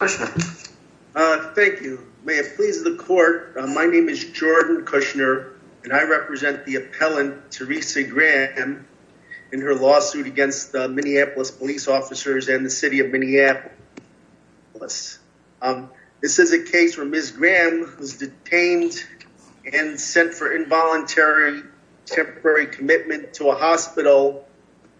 Thank you. May it please the court. My name is Jordan Kushner, and I represent the appellant Teresa Graham in her lawsuit against the Minneapolis police officers and the city of Minneapolis. This is a case where Ms. Graham was detained and sent for involuntary temporary commitment to a hospital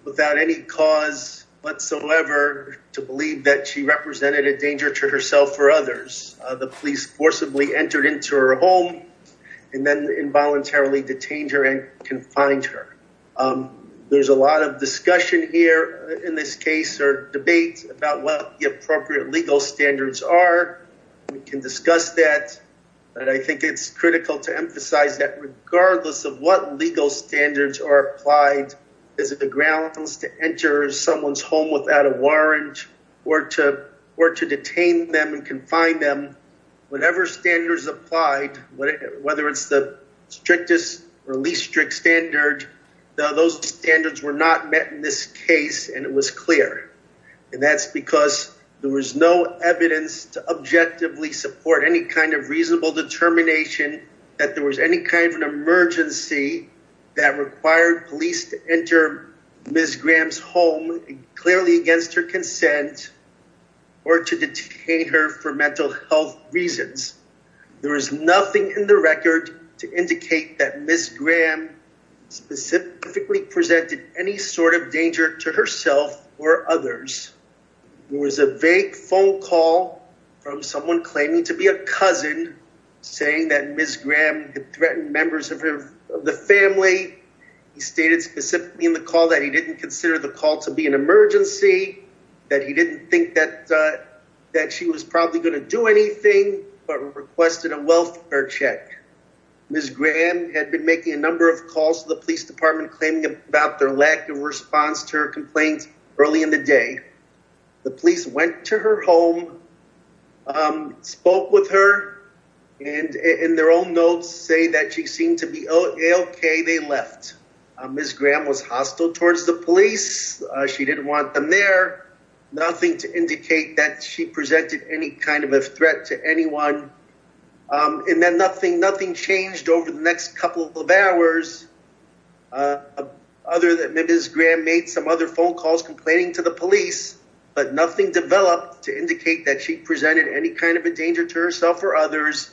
without any cause whatsoever to believe that she represented a danger to herself or others. The police forcibly entered into her home and then involuntarily detained her and confined her. There's a lot of discussion here in this case or debate about what the appropriate legal standards are. We can discuss that, but I think it's critical to emphasize that regardless of what legal standards are applied, is it the grounds to enter someone's home without a warrant or to detain them and confine them, whatever standards applied, whether it's the strictest or least strict standard, those standards were not met in this case, and it was clear. And that's because there was no evidence to objectively support any kind of reasonable determination that there was any kind of an emergency that required police to enter Ms. Graham's home clearly against her consent or to detain her for mental health reasons. There is nothing in the record to indicate that Ms. Graham specifically presented any sort of danger to herself or others. There was a vague phone call from someone claiming to be a cousin saying that Ms. Graham had threatened members of the family. He stated specifically in the call that he didn't consider the call to be an emergency, that he didn't think that she was probably going to do anything, but requested a welfare check. Ms. Graham had been making a number of calls to the police department claiming about their lack of response to her complaint early in the day. The police went to her home, spoke with her, and in their own notes say that she seemed to be okay. They left. Ms. Graham was hostile towards the police. She didn't want them there. Nothing to indicate that she presented any kind of a threat to anyone. And then nothing changed over the next couple of hours other than Ms. Graham making some other phone calls complaining to the police, but nothing developed to indicate that she presented any kind of a danger to herself or others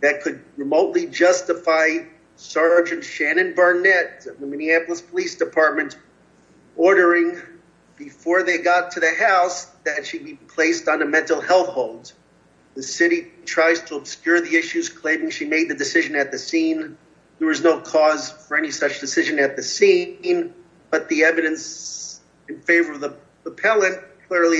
that could remotely justify Sergeant Shannon Barnett of the Minneapolis Police Department ordering before they got to the house that she be placed on a mental health hold. The city tries to obscure the issues claiming she made the decision at the scene. There was no cause for any such decision at the scene, but the evidence in favor of the appellant clearly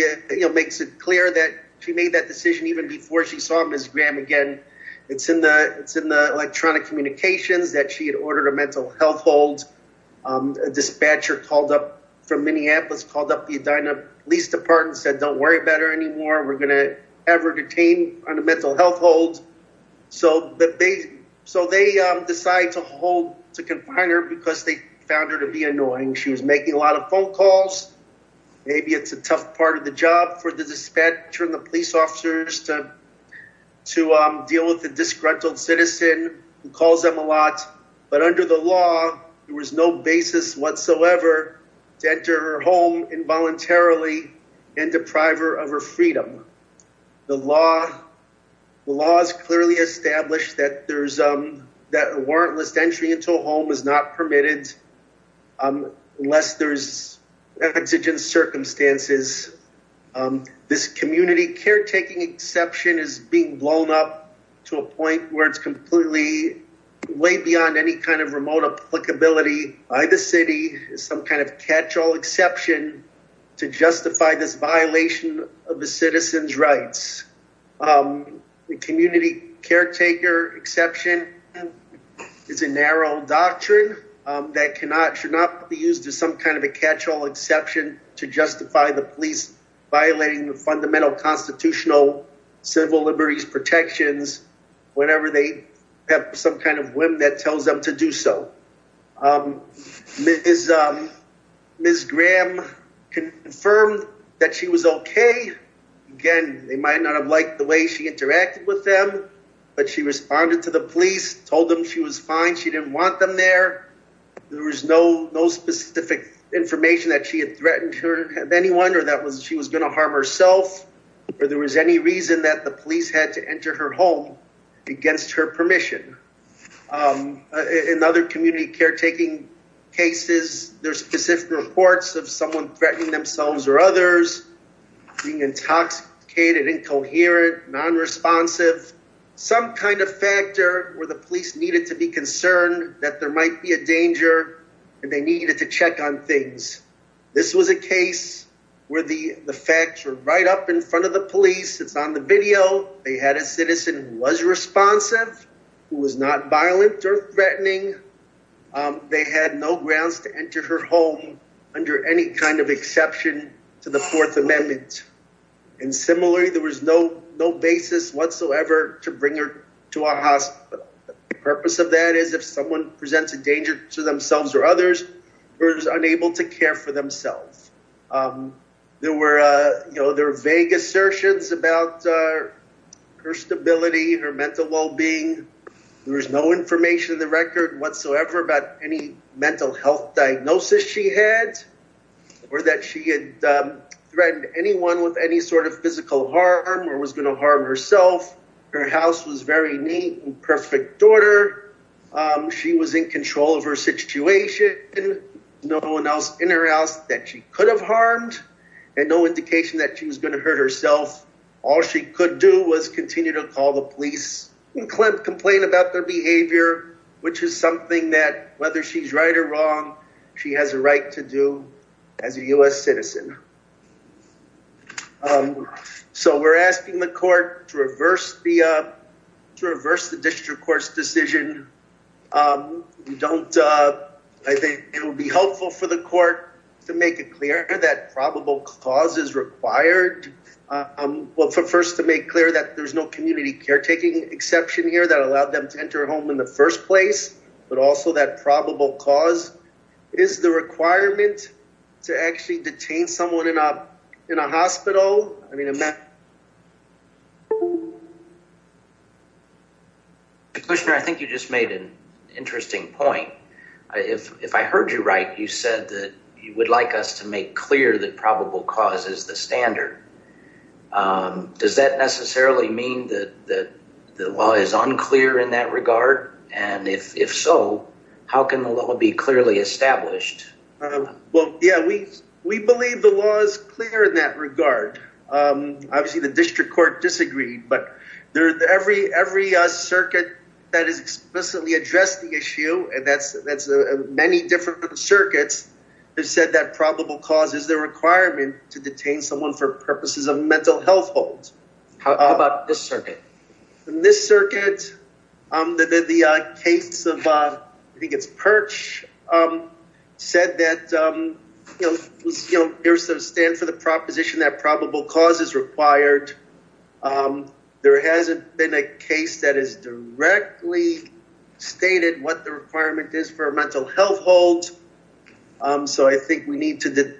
makes it clear that she made that decision even before she saw Ms. Graham again. It's in the electronic communications that she had ordered a mental health hold. A dispatcher called up from Minneapolis, called up the Edina Police Department and said, don't worry about her anymore. We're going to have her found her to be annoying. She was making a lot of phone calls. Maybe it's a tough part of the job for the dispatcher and the police officers to deal with the disgruntled citizen who calls them a lot. But under the law, there was no basis whatsoever to enter her home involuntarily and deprive her of her freedom. The law has clearly established that a warrantless entry into a home is not permitted unless there's exigent circumstances. This community caretaking exception is being blown up to a point where it's completely way beyond any kind of remote applicability by the city, some kind of exception. It's a narrow doctrine that should not be used as some kind of a catch-all exception to justify the police violating the fundamental constitutional civil liberties protections whenever they have some kind of whim that tells them to do so. Ms. Graham confirmed that she was okay. Again, they might not have liked the way she interacted with them, but she responded to the police, told them she was fine, she didn't want them there. There was no specific information that she had threatened anyone or that she was going to harm herself or there was any reason that the police had to enter her home against her permission. In other community caretaking cases, there's specific reports of someone being intoxicated, incoherent, non-responsive, some kind of factor where the police needed to be concerned that there might be a danger and they needed to check on things. This was a case where the facts were right up in front of the police. It's on the video. They had a citizen who was responsive, who was not violent or threatening. They had no grounds to enter her home under any kind of exception to the Fourth Amendment. Similarly, there was no basis whatsoever to bring her to our hospital. The purpose of that is if someone presents a danger to themselves or others, they're unable to care for themselves. There were vague assertions about her stability, her mental well-being. There was no information in the record whatsoever about any mental health diagnosis she had or that she had threatened anyone with any sort of physical harm or was going to harm herself. Her house was very neat and perfect order. She was in control of her situation. No one else in her house that she could have harmed and no indication that she was going to hurt herself. All she could do was continue to call the police and complain about her behavior, which is something that whether she's right or wrong, she has a right to do as a U.S. citizen. So we're asking the court to reverse the district court's decision. I think it would be helpful for the court to make it clear that probable cause is required. Well, first to make clear that there's no community caretaking exception here that allowed them to enter home in the first place, but also that probable cause is the requirement to actually detain someone in a hospital. I mean, I think you just made an interesting point. If I heard you right, you said that you would like us to make clear that probable cause is the standard. Does that necessarily mean that the law is unclear in that regard? And if so, how can the law be clearly established? Well, yeah, we believe the law is clear in that regard. Obviously, the district court disagreed, but every circuit that has explicitly addressed the issue, and that's many different circuits, have said that probable cause is the requirement to detain someone for purposes of mental health holds. How about this circuit? In this circuit, the case of Perch said that there's a stand for the proposition that probable cause is required. There hasn't been a case that has directly stated what the requirement is for a mental health hold. So, I think we need to, this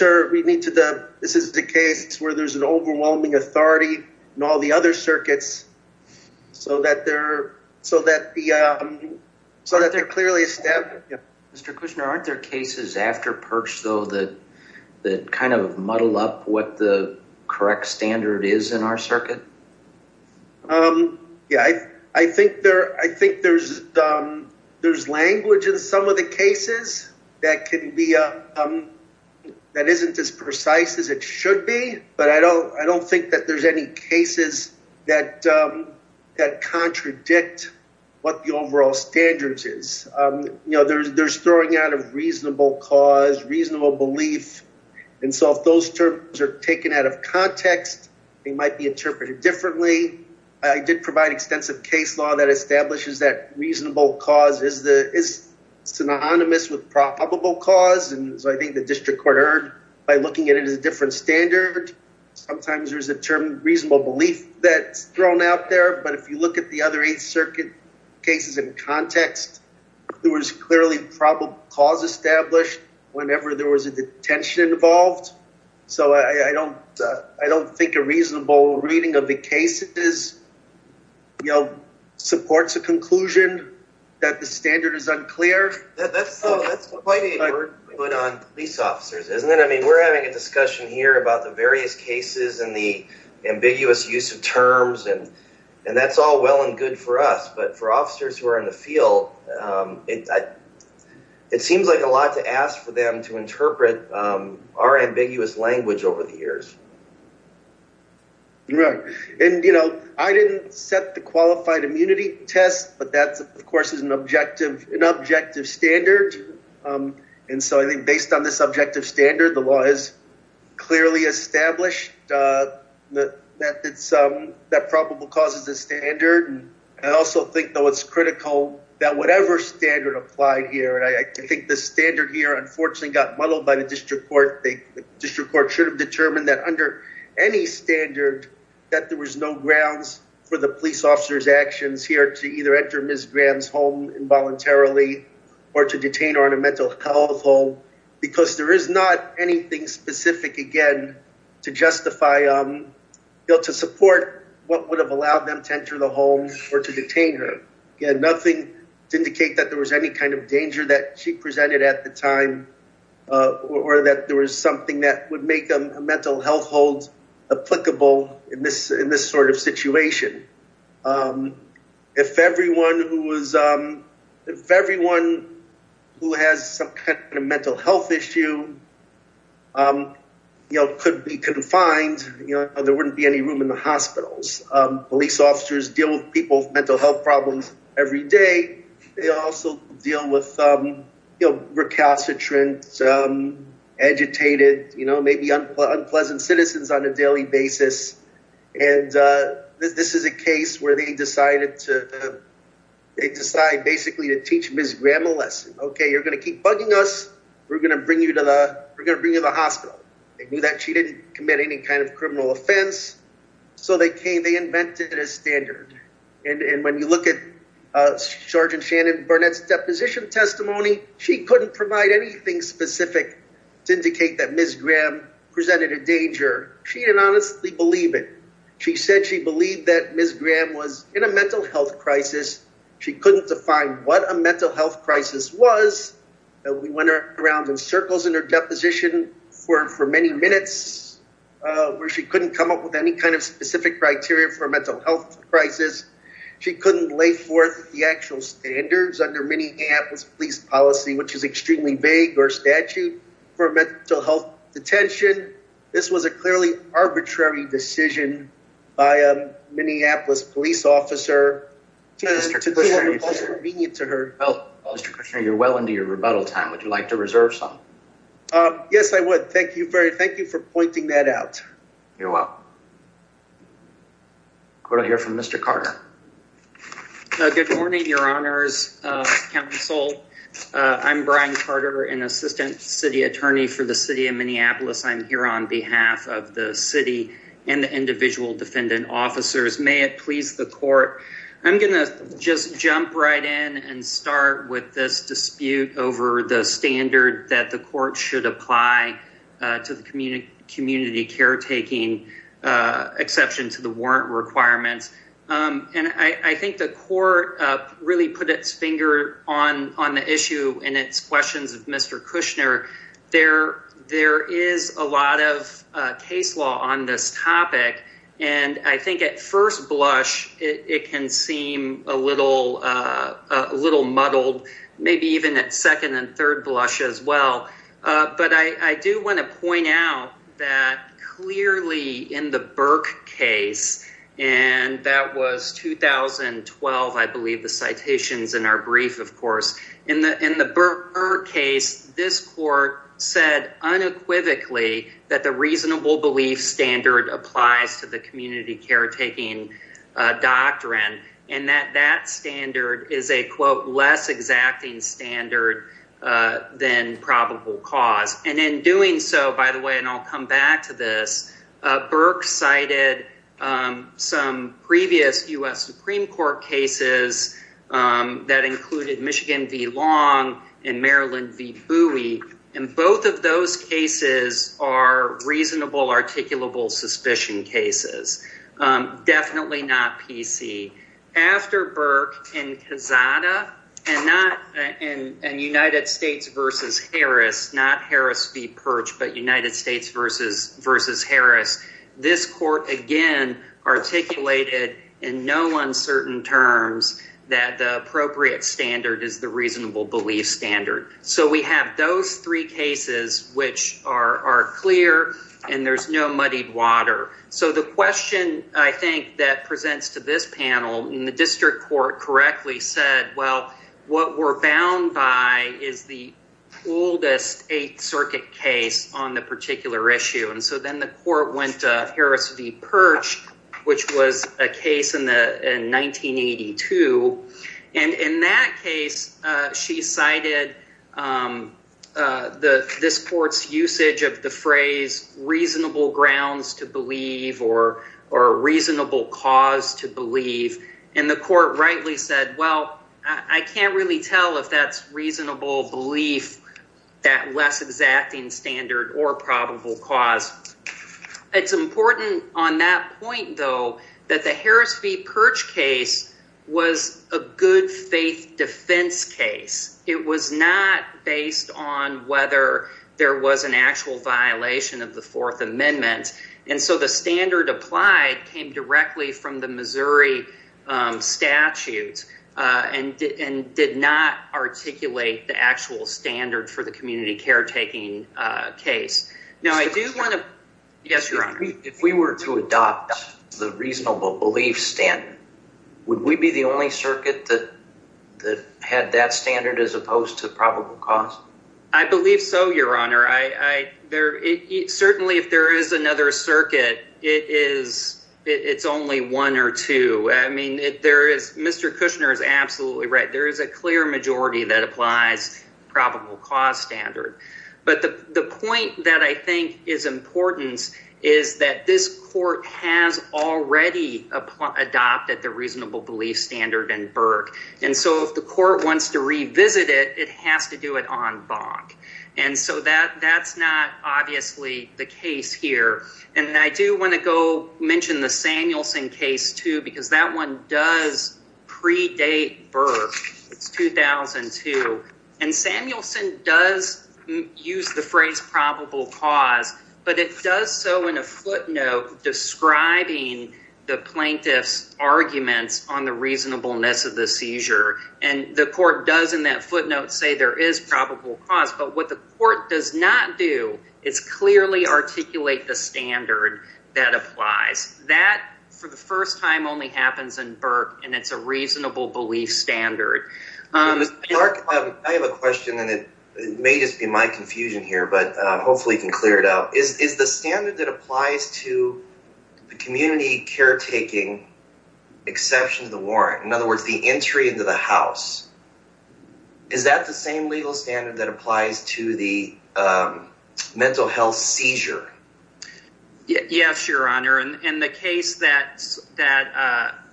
is the case where there's an overwhelming authority in all the other circuits, so that they're clearly established. Mr. Kushner, aren't there cases after Perch, though, that kind of muddle up what the correct standard is in our circuit? Yeah, I think there's language in some of the cases that can be, that isn't as precise as it should be, but I don't think that there's any cases that contradict what the overall standards is. You know, there's throwing out of reasonable cause, reasonable belief, and so if those terms are taken out of context, they might be interpreted differently. I did provide extensive case law that establishes that reasonable cause is synonymous with probable cause, and so I think the district court heard by looking at it as a different standard. Sometimes there's a term, reasonable belief, that's thrown out there, but if you look at the other eight circuit cases in context, there was clearly probable cause established whenever there was a detention involved, so I don't think a reasonable reading of the case supports a conclusion that the standard is unclear. That's quite a word to put on police officers, isn't it? I mean, we're having a discussion here about the various cases and the ambiguous use of terms, and that's all well and good for us, but for officers who are in the field, it seems like a lot to ask for them to interpret our ambiguous language over the years. Right, and you know, I didn't set the qualified immunity test, but that of course is an objective standard, and so I think based on this objective standard, the law is clearly established that probable cause is a standard, and I also think though it's critical that whatever standard applied here, and I think the standard here unfortunately got muddled by the district court, the district court should have determined that under any standard that there was no grounds for the police officer's actions here to either enter Ms. Graham's home involuntarily or to detain her in a mental health home, because there is not anything specific, again, to justify, to support what would have allowed them to enter the home or to detain her. Again, to indicate that there was any kind of danger that she presented at the time, or that there was something that would make a mental health hold applicable in this sort of situation. If everyone who has some kind of mental health issue, you know, could be confined, you know, there wouldn't be any room in the hospitals. Police officers deal with people with mental health problems every day. They also deal with recalcitrant, agitated, you know, maybe unpleasant citizens on a daily basis, and this is a case where they decided to, they decided basically to teach Ms. Graham a lesson. Okay, you're going to keep bugging us, we're going to bring you to the, we're going to bring you to the hospital. They knew that she didn't commit any kind of a crime. When you look at Sgt. Shannon Burnett's deposition testimony, she couldn't provide anything specific to indicate that Ms. Graham presented a danger. She didn't honestly believe it. She said she believed that Ms. Graham was in a mental health crisis. She couldn't define what a mental health crisis was. We went around in circles in her deposition for many minutes, where she couldn't come up with any kind of specific criteria for a mental health crisis. She couldn't lay forth the actual standards under Minneapolis police policy, which is extremely vague or statute for mental health detention. This was a clearly arbitrary decision by a Minneapolis police officer. Well, Mr. Kushner, you're well into your rebuttal time. Would you like to reserve some? Yes, I would. Thank you very, thank you for pointing that out. You're welcome. We're going to hear from Mr. Carter. Good morning, your honors, counsel. I'm Brian Carter, an assistant city attorney for the city of Minneapolis. I'm here on behalf of the city and the individual defendant officers. May it please the court. I'm going to just jump right in and start with this dispute over the standard that the court should apply to the community caretaking exception to the warrant requirements. I think the court really put its finger on the issue and its questions of Mr. Kushner. There is a lot of little muddled, maybe even at second and third blush as well. But I do want to point out that clearly in the Burke case, and that was 2012, I believe the citations in our brief, of course, in the Burke case, this court said unequivocally that the reasonable belief standard applies to community caretaking doctrine, and that that standard is a quote, less exacting standard than probable cause. And in doing so, by the way, and I'll come back to this, Burke cited some previous U.S. Supreme Court cases that included Michigan v. Long and Maryland v. Purchase. Definitely not P.C. After Burke and Casada and United States v. Harris, not Harris v. Purch, but United States v. Harris, this court again articulated in no uncertain terms that the appropriate standard is the reasonable belief standard. So we have those three cases which are clear, and there's no muddied water. So the question, I think, that presents to this panel, and the district court correctly said, well, what we're bound by is the oldest Eighth Circuit case on the particular issue. And so then the court went to Harris v. Purch, which was a case in 1982, and in that case, she cited this court's usage of the phrase reasonable grounds to believe or reasonable cause to believe, and the court rightly said, well, I can't really tell if that's reasonable belief, that less exacting standard or probable cause. It's important on that point, though, that the Harris v. Purch case was a good faith defense case. It was not based on whether there was an actual violation of the Fourth Amendment, and so the standard applied came directly from the Missouri statutes and did not articulate the standard for the community caretaking case. If we were to adopt the reasonable belief standard, would we be the only circuit that had that standard as opposed to probable cause? I believe so, Your Honor. Certainly, if there is another circuit, it's only one or two. I mean, Mr. Kushner is absolutely right. There is a clear majority that applies probable cause standard, but the point that I think is important is that this court has already adopted the reasonable belief standard in Burke, and so if the court wants to revisit it, it has to do it on Bonk. And so that's not obviously the case here, and I do want to go the Samuelson case, too, because that one does predate Burke. It's 2002, and Samuelson does use the phrase probable cause, but it does so in a footnote describing the plaintiff's arguments on the reasonableness of the seizure, and the court does in that footnote say there is probable cause, but what the court does not do is clearly articulate the standard that applies. That, for the first time, only happens in Burke, and it's a reasonable belief standard. Mark, I have a question, and it may just be my confusion here, but hopefully you can clear it out. Is the standard that applies to the community caretaking exception to the warrant, in other words, to the mental health seizure? Yes, Your Honor, and the case that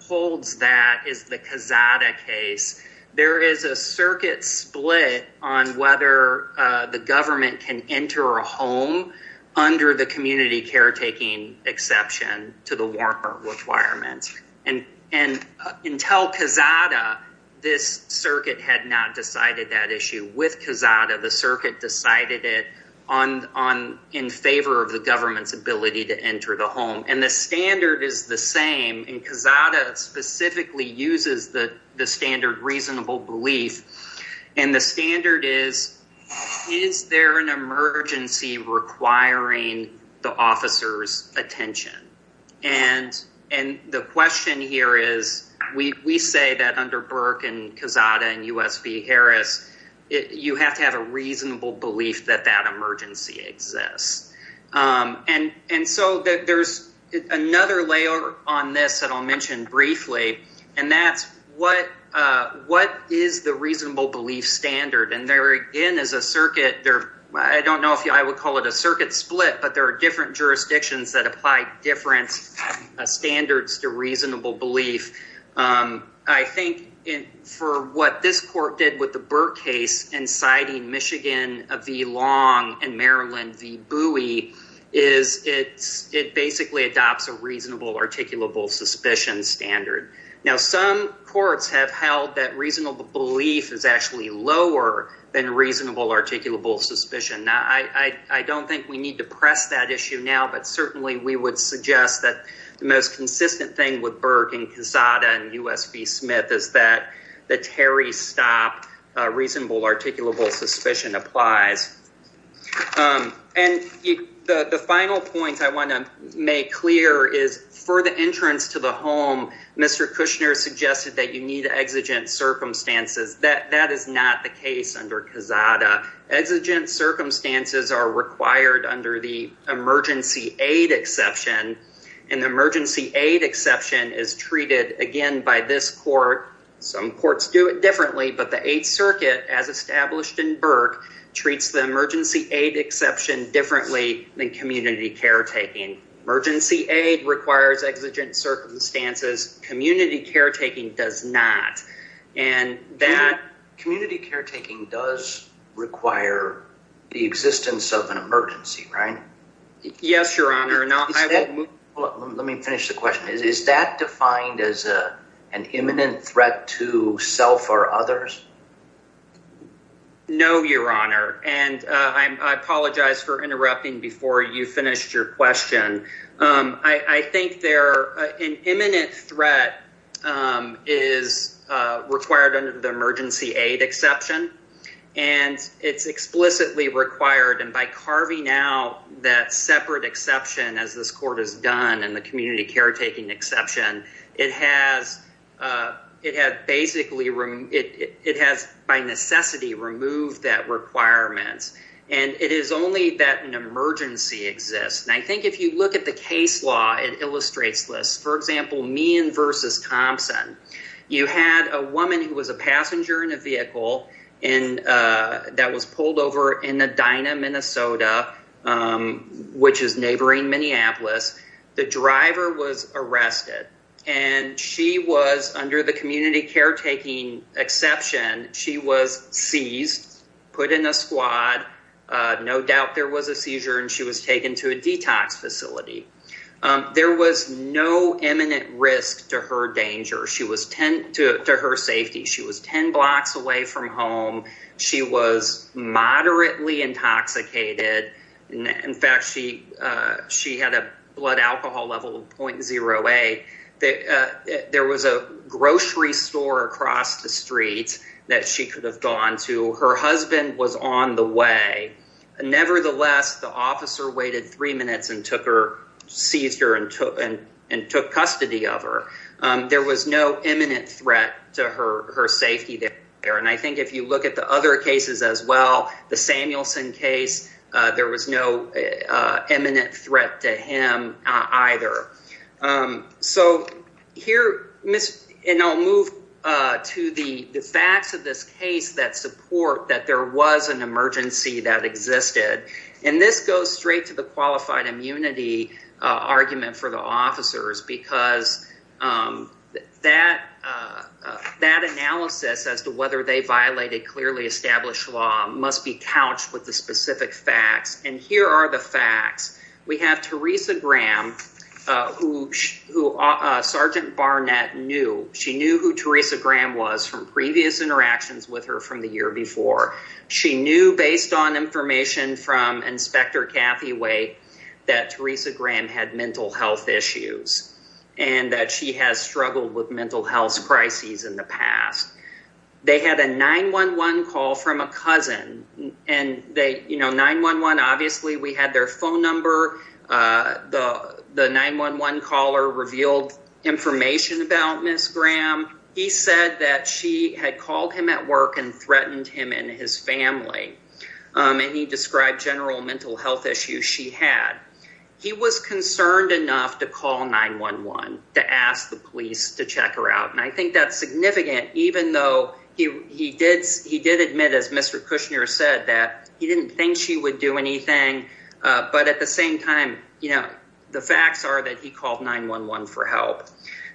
holds that is the Cazada case. There is a circuit split on whether the government can enter a home under the community caretaking exception to the warrant requirements, and until Cazada, this circuit had not decided that issue. With Cazada, the circuit decided it in favor of the government's ability to enter the home, and the standard is the same, and Cazada specifically uses the standard reasonable belief, and the standard is, is there an emergency requiring the officer's attention? And the question here is, we say that under Burke and Cazada and U.S. v. Harris, you have to have a reasonable belief that that emergency exists, and so there's another layer on this that I'll mention briefly, and that's what is the reasonable belief standard, and there again is a circuit, I don't know if I would call it a circuit split, but there are different jurisdictions that apply different standards to reasonable belief. I think for what this court did with the Burke case, inciting Michigan v. Long and Maryland v. Bowie, is it basically adopts a reasonable, articulable suspicion standard. Now, some courts have held that reasonable belief is actually lower than reasonable articulable suspicion. Now, I don't think we need to press that issue now, but certainly we would suggest that the most consistent thing with Burke and Cazada and U.S. v. Smith is that the Terry Stop reasonable articulable suspicion applies, and the final point I want to make clear is for the entrance to the home, Mr. Kushner suggested that you need exigent circumstances. That is not the case under Cazada. Exigent circumstances are required under the emergency aid exception, and the emergency aid exception is treated, again, by this court. Some courts do it differently, but the 8th Circuit, as established in Burke, treats the emergency aid exception differently than community caretaking. Emergency aid requires exigent circumstances. Community caretaking does not. Community caretaking does require the existence of an emergency, right? Yes, Your Honor. Let me finish the question. Is that defined as an imminent threat to self or others? No, Your Honor, and I apologize for interrupting before you finished your question. I think an imminent threat is required under the emergency aid exception, and it's explicitly required, and by carving out that separate exception, as this court has done in the community caretaking exception, it has basically removed, it has by necessity removed that requirement, and it is only that an emergency exists, and I think if you look at the case law, it illustrates this. For example, Meehan v. Thompson, you had a woman who was in a vehicle that was pulled over in Edina, Minnesota, which is neighboring Minneapolis. The driver was arrested, and she was, under the community caretaking exception, she was seized, put in a squad. No doubt there was a seizure, and she was taken to a detox facility. There was no imminent risk to her danger, to her safety. She was 10 blocks away from home. She was moderately intoxicated. In fact, she had a blood alcohol level of 0.08. There was a grocery store across the street that she could have gone to. Her husband was on the way. Nevertheless, the officer waited three minutes and took her, seized her, and took custody of her. There was no imminent threat to her safety there, and I think if you look at the other cases as well, the Samuelson case, there was no imminent threat to him either. So here, and I'll move to the facts of this case that support that there was an emergency that existed, and this goes straight to the qualified immunity argument for the officers because that analysis as to whether they violated clearly established law must be couched with the specific facts. We have Teresa Graham, who Sergeant Barnett knew. She knew who Teresa Graham was from previous interactions with her from the year before. She knew, based on information from Inspector Cathyway, that Teresa Graham had mental health issues and that she has struggled with mental health crises in the past. They had a 911 call from a cousin, and 9-1-1, obviously, we had their phone number. The 911 caller revealed information about Ms. Graham. He said that she had called him at work and threatened him and his family, and he described general mental health issues she had. He was concerned enough to call 9-1-1 to ask the police to check her out, and I think that's significant even though he did admit, as Mr. Kushner said, that he didn't think she would do anything, but at the same time, the facts are that he called 9-1-1 for help.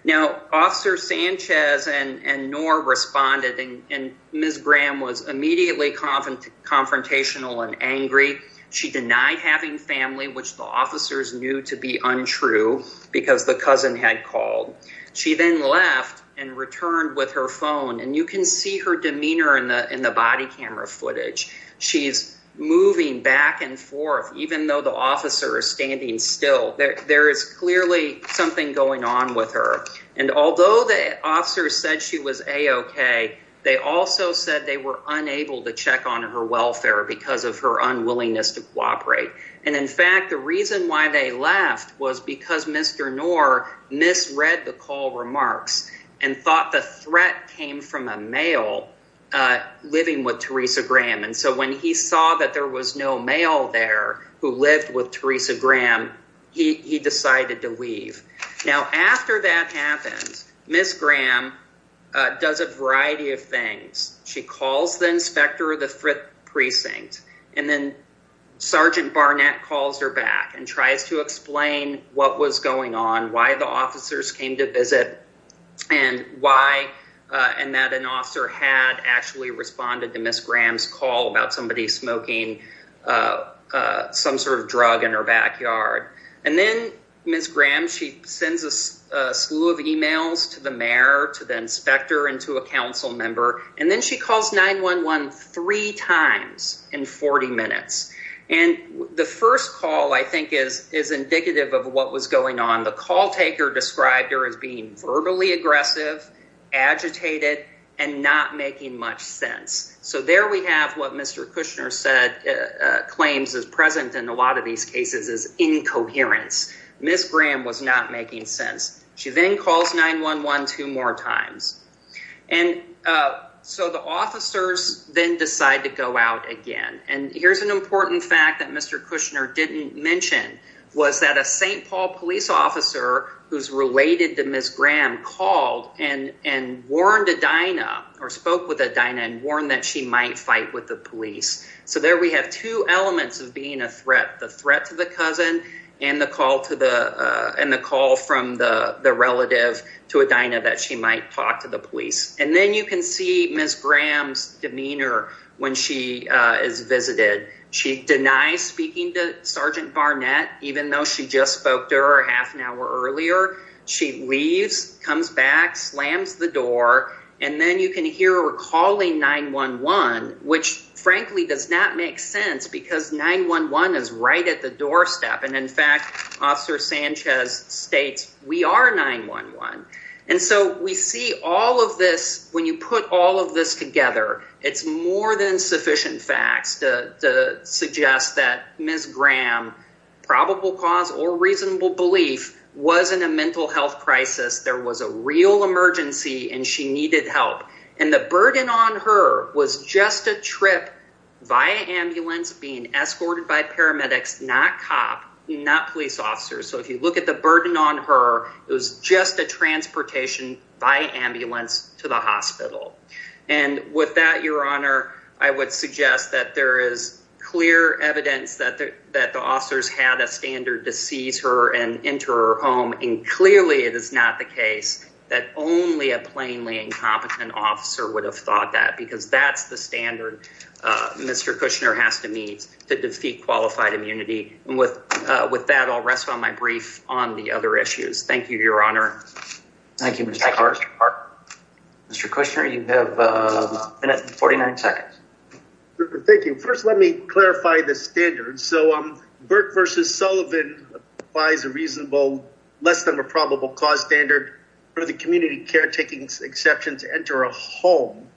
Now, Officer Sanchez and Knorr responded, and Ms. Graham was immediately confrontational and angry. She denied having family, which the officers knew to be untrue because the cousin had called. She then left and returned with her phone, and you can see her demeanor in the body camera footage. She's moving back and forth, even though the officer is standing still. There is clearly something going on with her, and although the officers said she was A-OK, they also said they were unable to check on her welfare because of her unwillingness to cooperate, and in fact, the reason why they left was because Mr. Knorr misread the call remarks and thought the threat came from a male living with Teresa Graham, and so when he saw that there was no male there who lived with Teresa Graham, he decided to leave. Now, after that happened, Ms. Graham does a variety of things. She calls the inspector of the Frith Precinct, and then Sergeant Barnett calls her back and tries to explain what was going on, why the officers came to visit, and that an officer had actually responded to Ms. Graham's call about somebody smoking some sort of drug in her backyard, and then Ms. Graham, she sends a slew of emails to the mayor, to the inspector, and to a council member, and then she calls 911 three times in 40 minutes, and the first call, I think, is indicative of what was going on. The call taker described her as being verbally aggressive, agitated, and not making much sense, so there we have what Mr. Kushner claims is present in a lot of these cases as incoherence. Ms. Graham was not making sense. She then calls 911 two more times, and so the officers then decide to go out again, and here's an important fact that Mr. Kushner didn't mention was that a St. Paul police officer who's related to Ms. Graham called and warned Adina, or spoke with Adina, and warned that she might fight with the police, so there we have two elements of being a threat, the threat to the cousin and the call from the relative to Adina that she might talk to the police, and then you can see Ms. Graham's demeanor when she is visited. She denies speaking to Sergeant Barnett, even though she just spoke to her half an hour earlier. She leaves, comes back, slams the door, and then you can hear her calling 911, which frankly does not make sense because 911 is right at the doorstep, and in fact, Officer Sanchez states, we are 911, and so we see all of this when you put all of this together. It's more than sufficient facts to suggest that Ms. Graham, probable cause or reasonable belief, was in a mental health crisis. There was a real emergency, and she needed help, and the burden on her was just a trip via ambulance being escorted by paramedics, not cop, not police officers, so if you look at the burden on her, it was just a transportation via ambulance to the hospital, and with that, Your Honor, I would suggest that there is clear evidence that the officers had a standard to seize her and enter her home, and clearly, it is not the case that only a plainly incompetent officer would have thought that because that's the standard Mr. Kushner has to meet to defeat qualified immunity, and with that, I'll rest on my brief on the other issues. Thank you, Your Honor. Thank you, Mr. Clark. Mr. Kushner, you have a minute and 49 seconds. Thank you. First, let me clarify the standards. So, Burke v. Sullivan applies a reasonable less than probable cause standard for the community care taking exception to enter a home.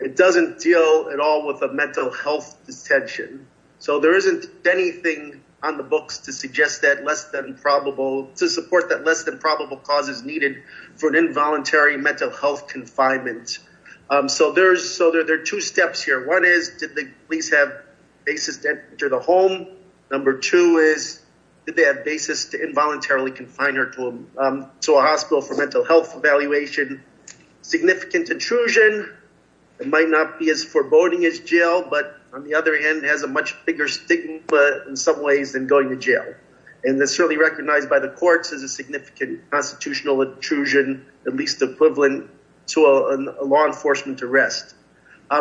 It doesn't deal at all with a mental health detention, so there isn't anything on the books to suggest that less than probable, to support that less than probable cause is needed for an involuntary mental health confinement, so there's, so there are two steps here. One is, did the police have basis to enter the home? Number two is, did they have basis to involuntarily confine her to a hospital for mental health evaluation? Significant intrusion, it might not be as foreboding as jail, but on the other hand, a much bigger stigma in some ways than going to jail, and it's certainly recognized by the courts as a significant constitutional intrusion, at least equivalent to a law enforcement arrest.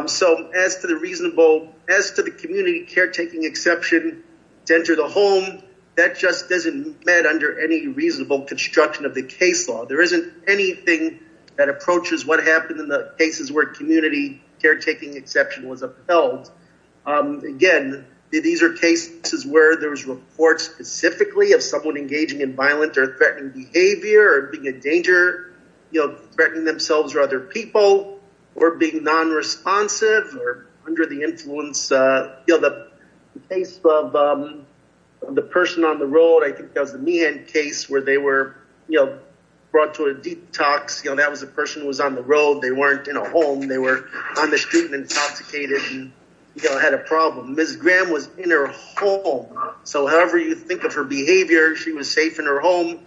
So, as to the reasonable, as to the community care taking exception to enter the home, that just doesn't matter under any reasonable construction of the case law. There isn't anything that approaches what happened in the cases where community care taking exception was done. Again, these are cases where there was reports specifically of someone engaging in violent or threatening behavior, or being a danger, you know, threatening themselves or other people, or being non-responsive, or under the influence, you know, the case of the person on the road, I think that was the Meehan case, where they were, you know, brought to a detox, you know, that was a person who was on the road, they weren't in a home, they were on the street and intoxicated and, you know, had a problem. Ms. Graham was in her home, so however you think of her behavior, she was safe in her home,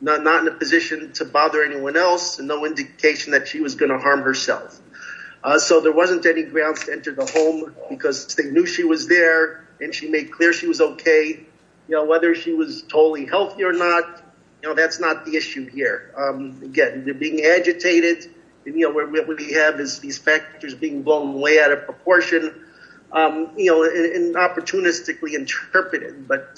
not in a position to bother anyone else, and no indication that she was going to harm herself. So, there wasn't any grounds to enter the home, because they knew she was there, and she made clear she was okay, you know, whether she was totally healthy or not, you know, that's not the issue here. Again, they're being agitated, and, you know, what we have is these factors being blown way out of proportion, you know, and opportunistically interpreted, but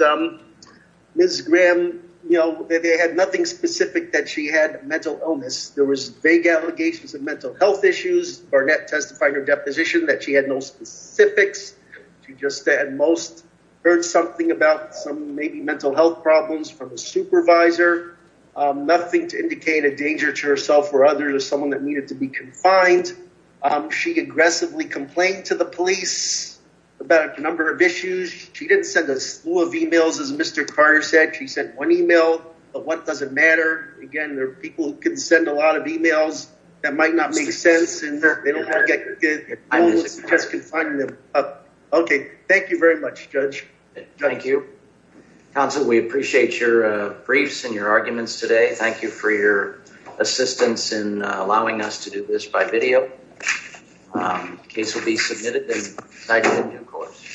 Ms. Graham, you know, they had nothing specific that she had mental illness, there was vague allegations of mental health issues, Barnett testified in her deposition that she had no specifics, she just at most heard something about some maybe mental health problems from a supervisor, nothing to indicate a danger to herself or others or someone that needed to be confined. She aggressively complained to the police about a number of issues. She didn't send a slew of emails, as Mr. Carter said, she sent one email, but what does it matter? Again, there are people who can send a lot of emails that might not make sense, and they don't want to get just confining them. Okay, thank you very much, Judge. Thank you. Council, we appreciate your briefs and your arguments today. Thank you for assistance in allowing us to do this by video. The case will be submitted and cited in due course.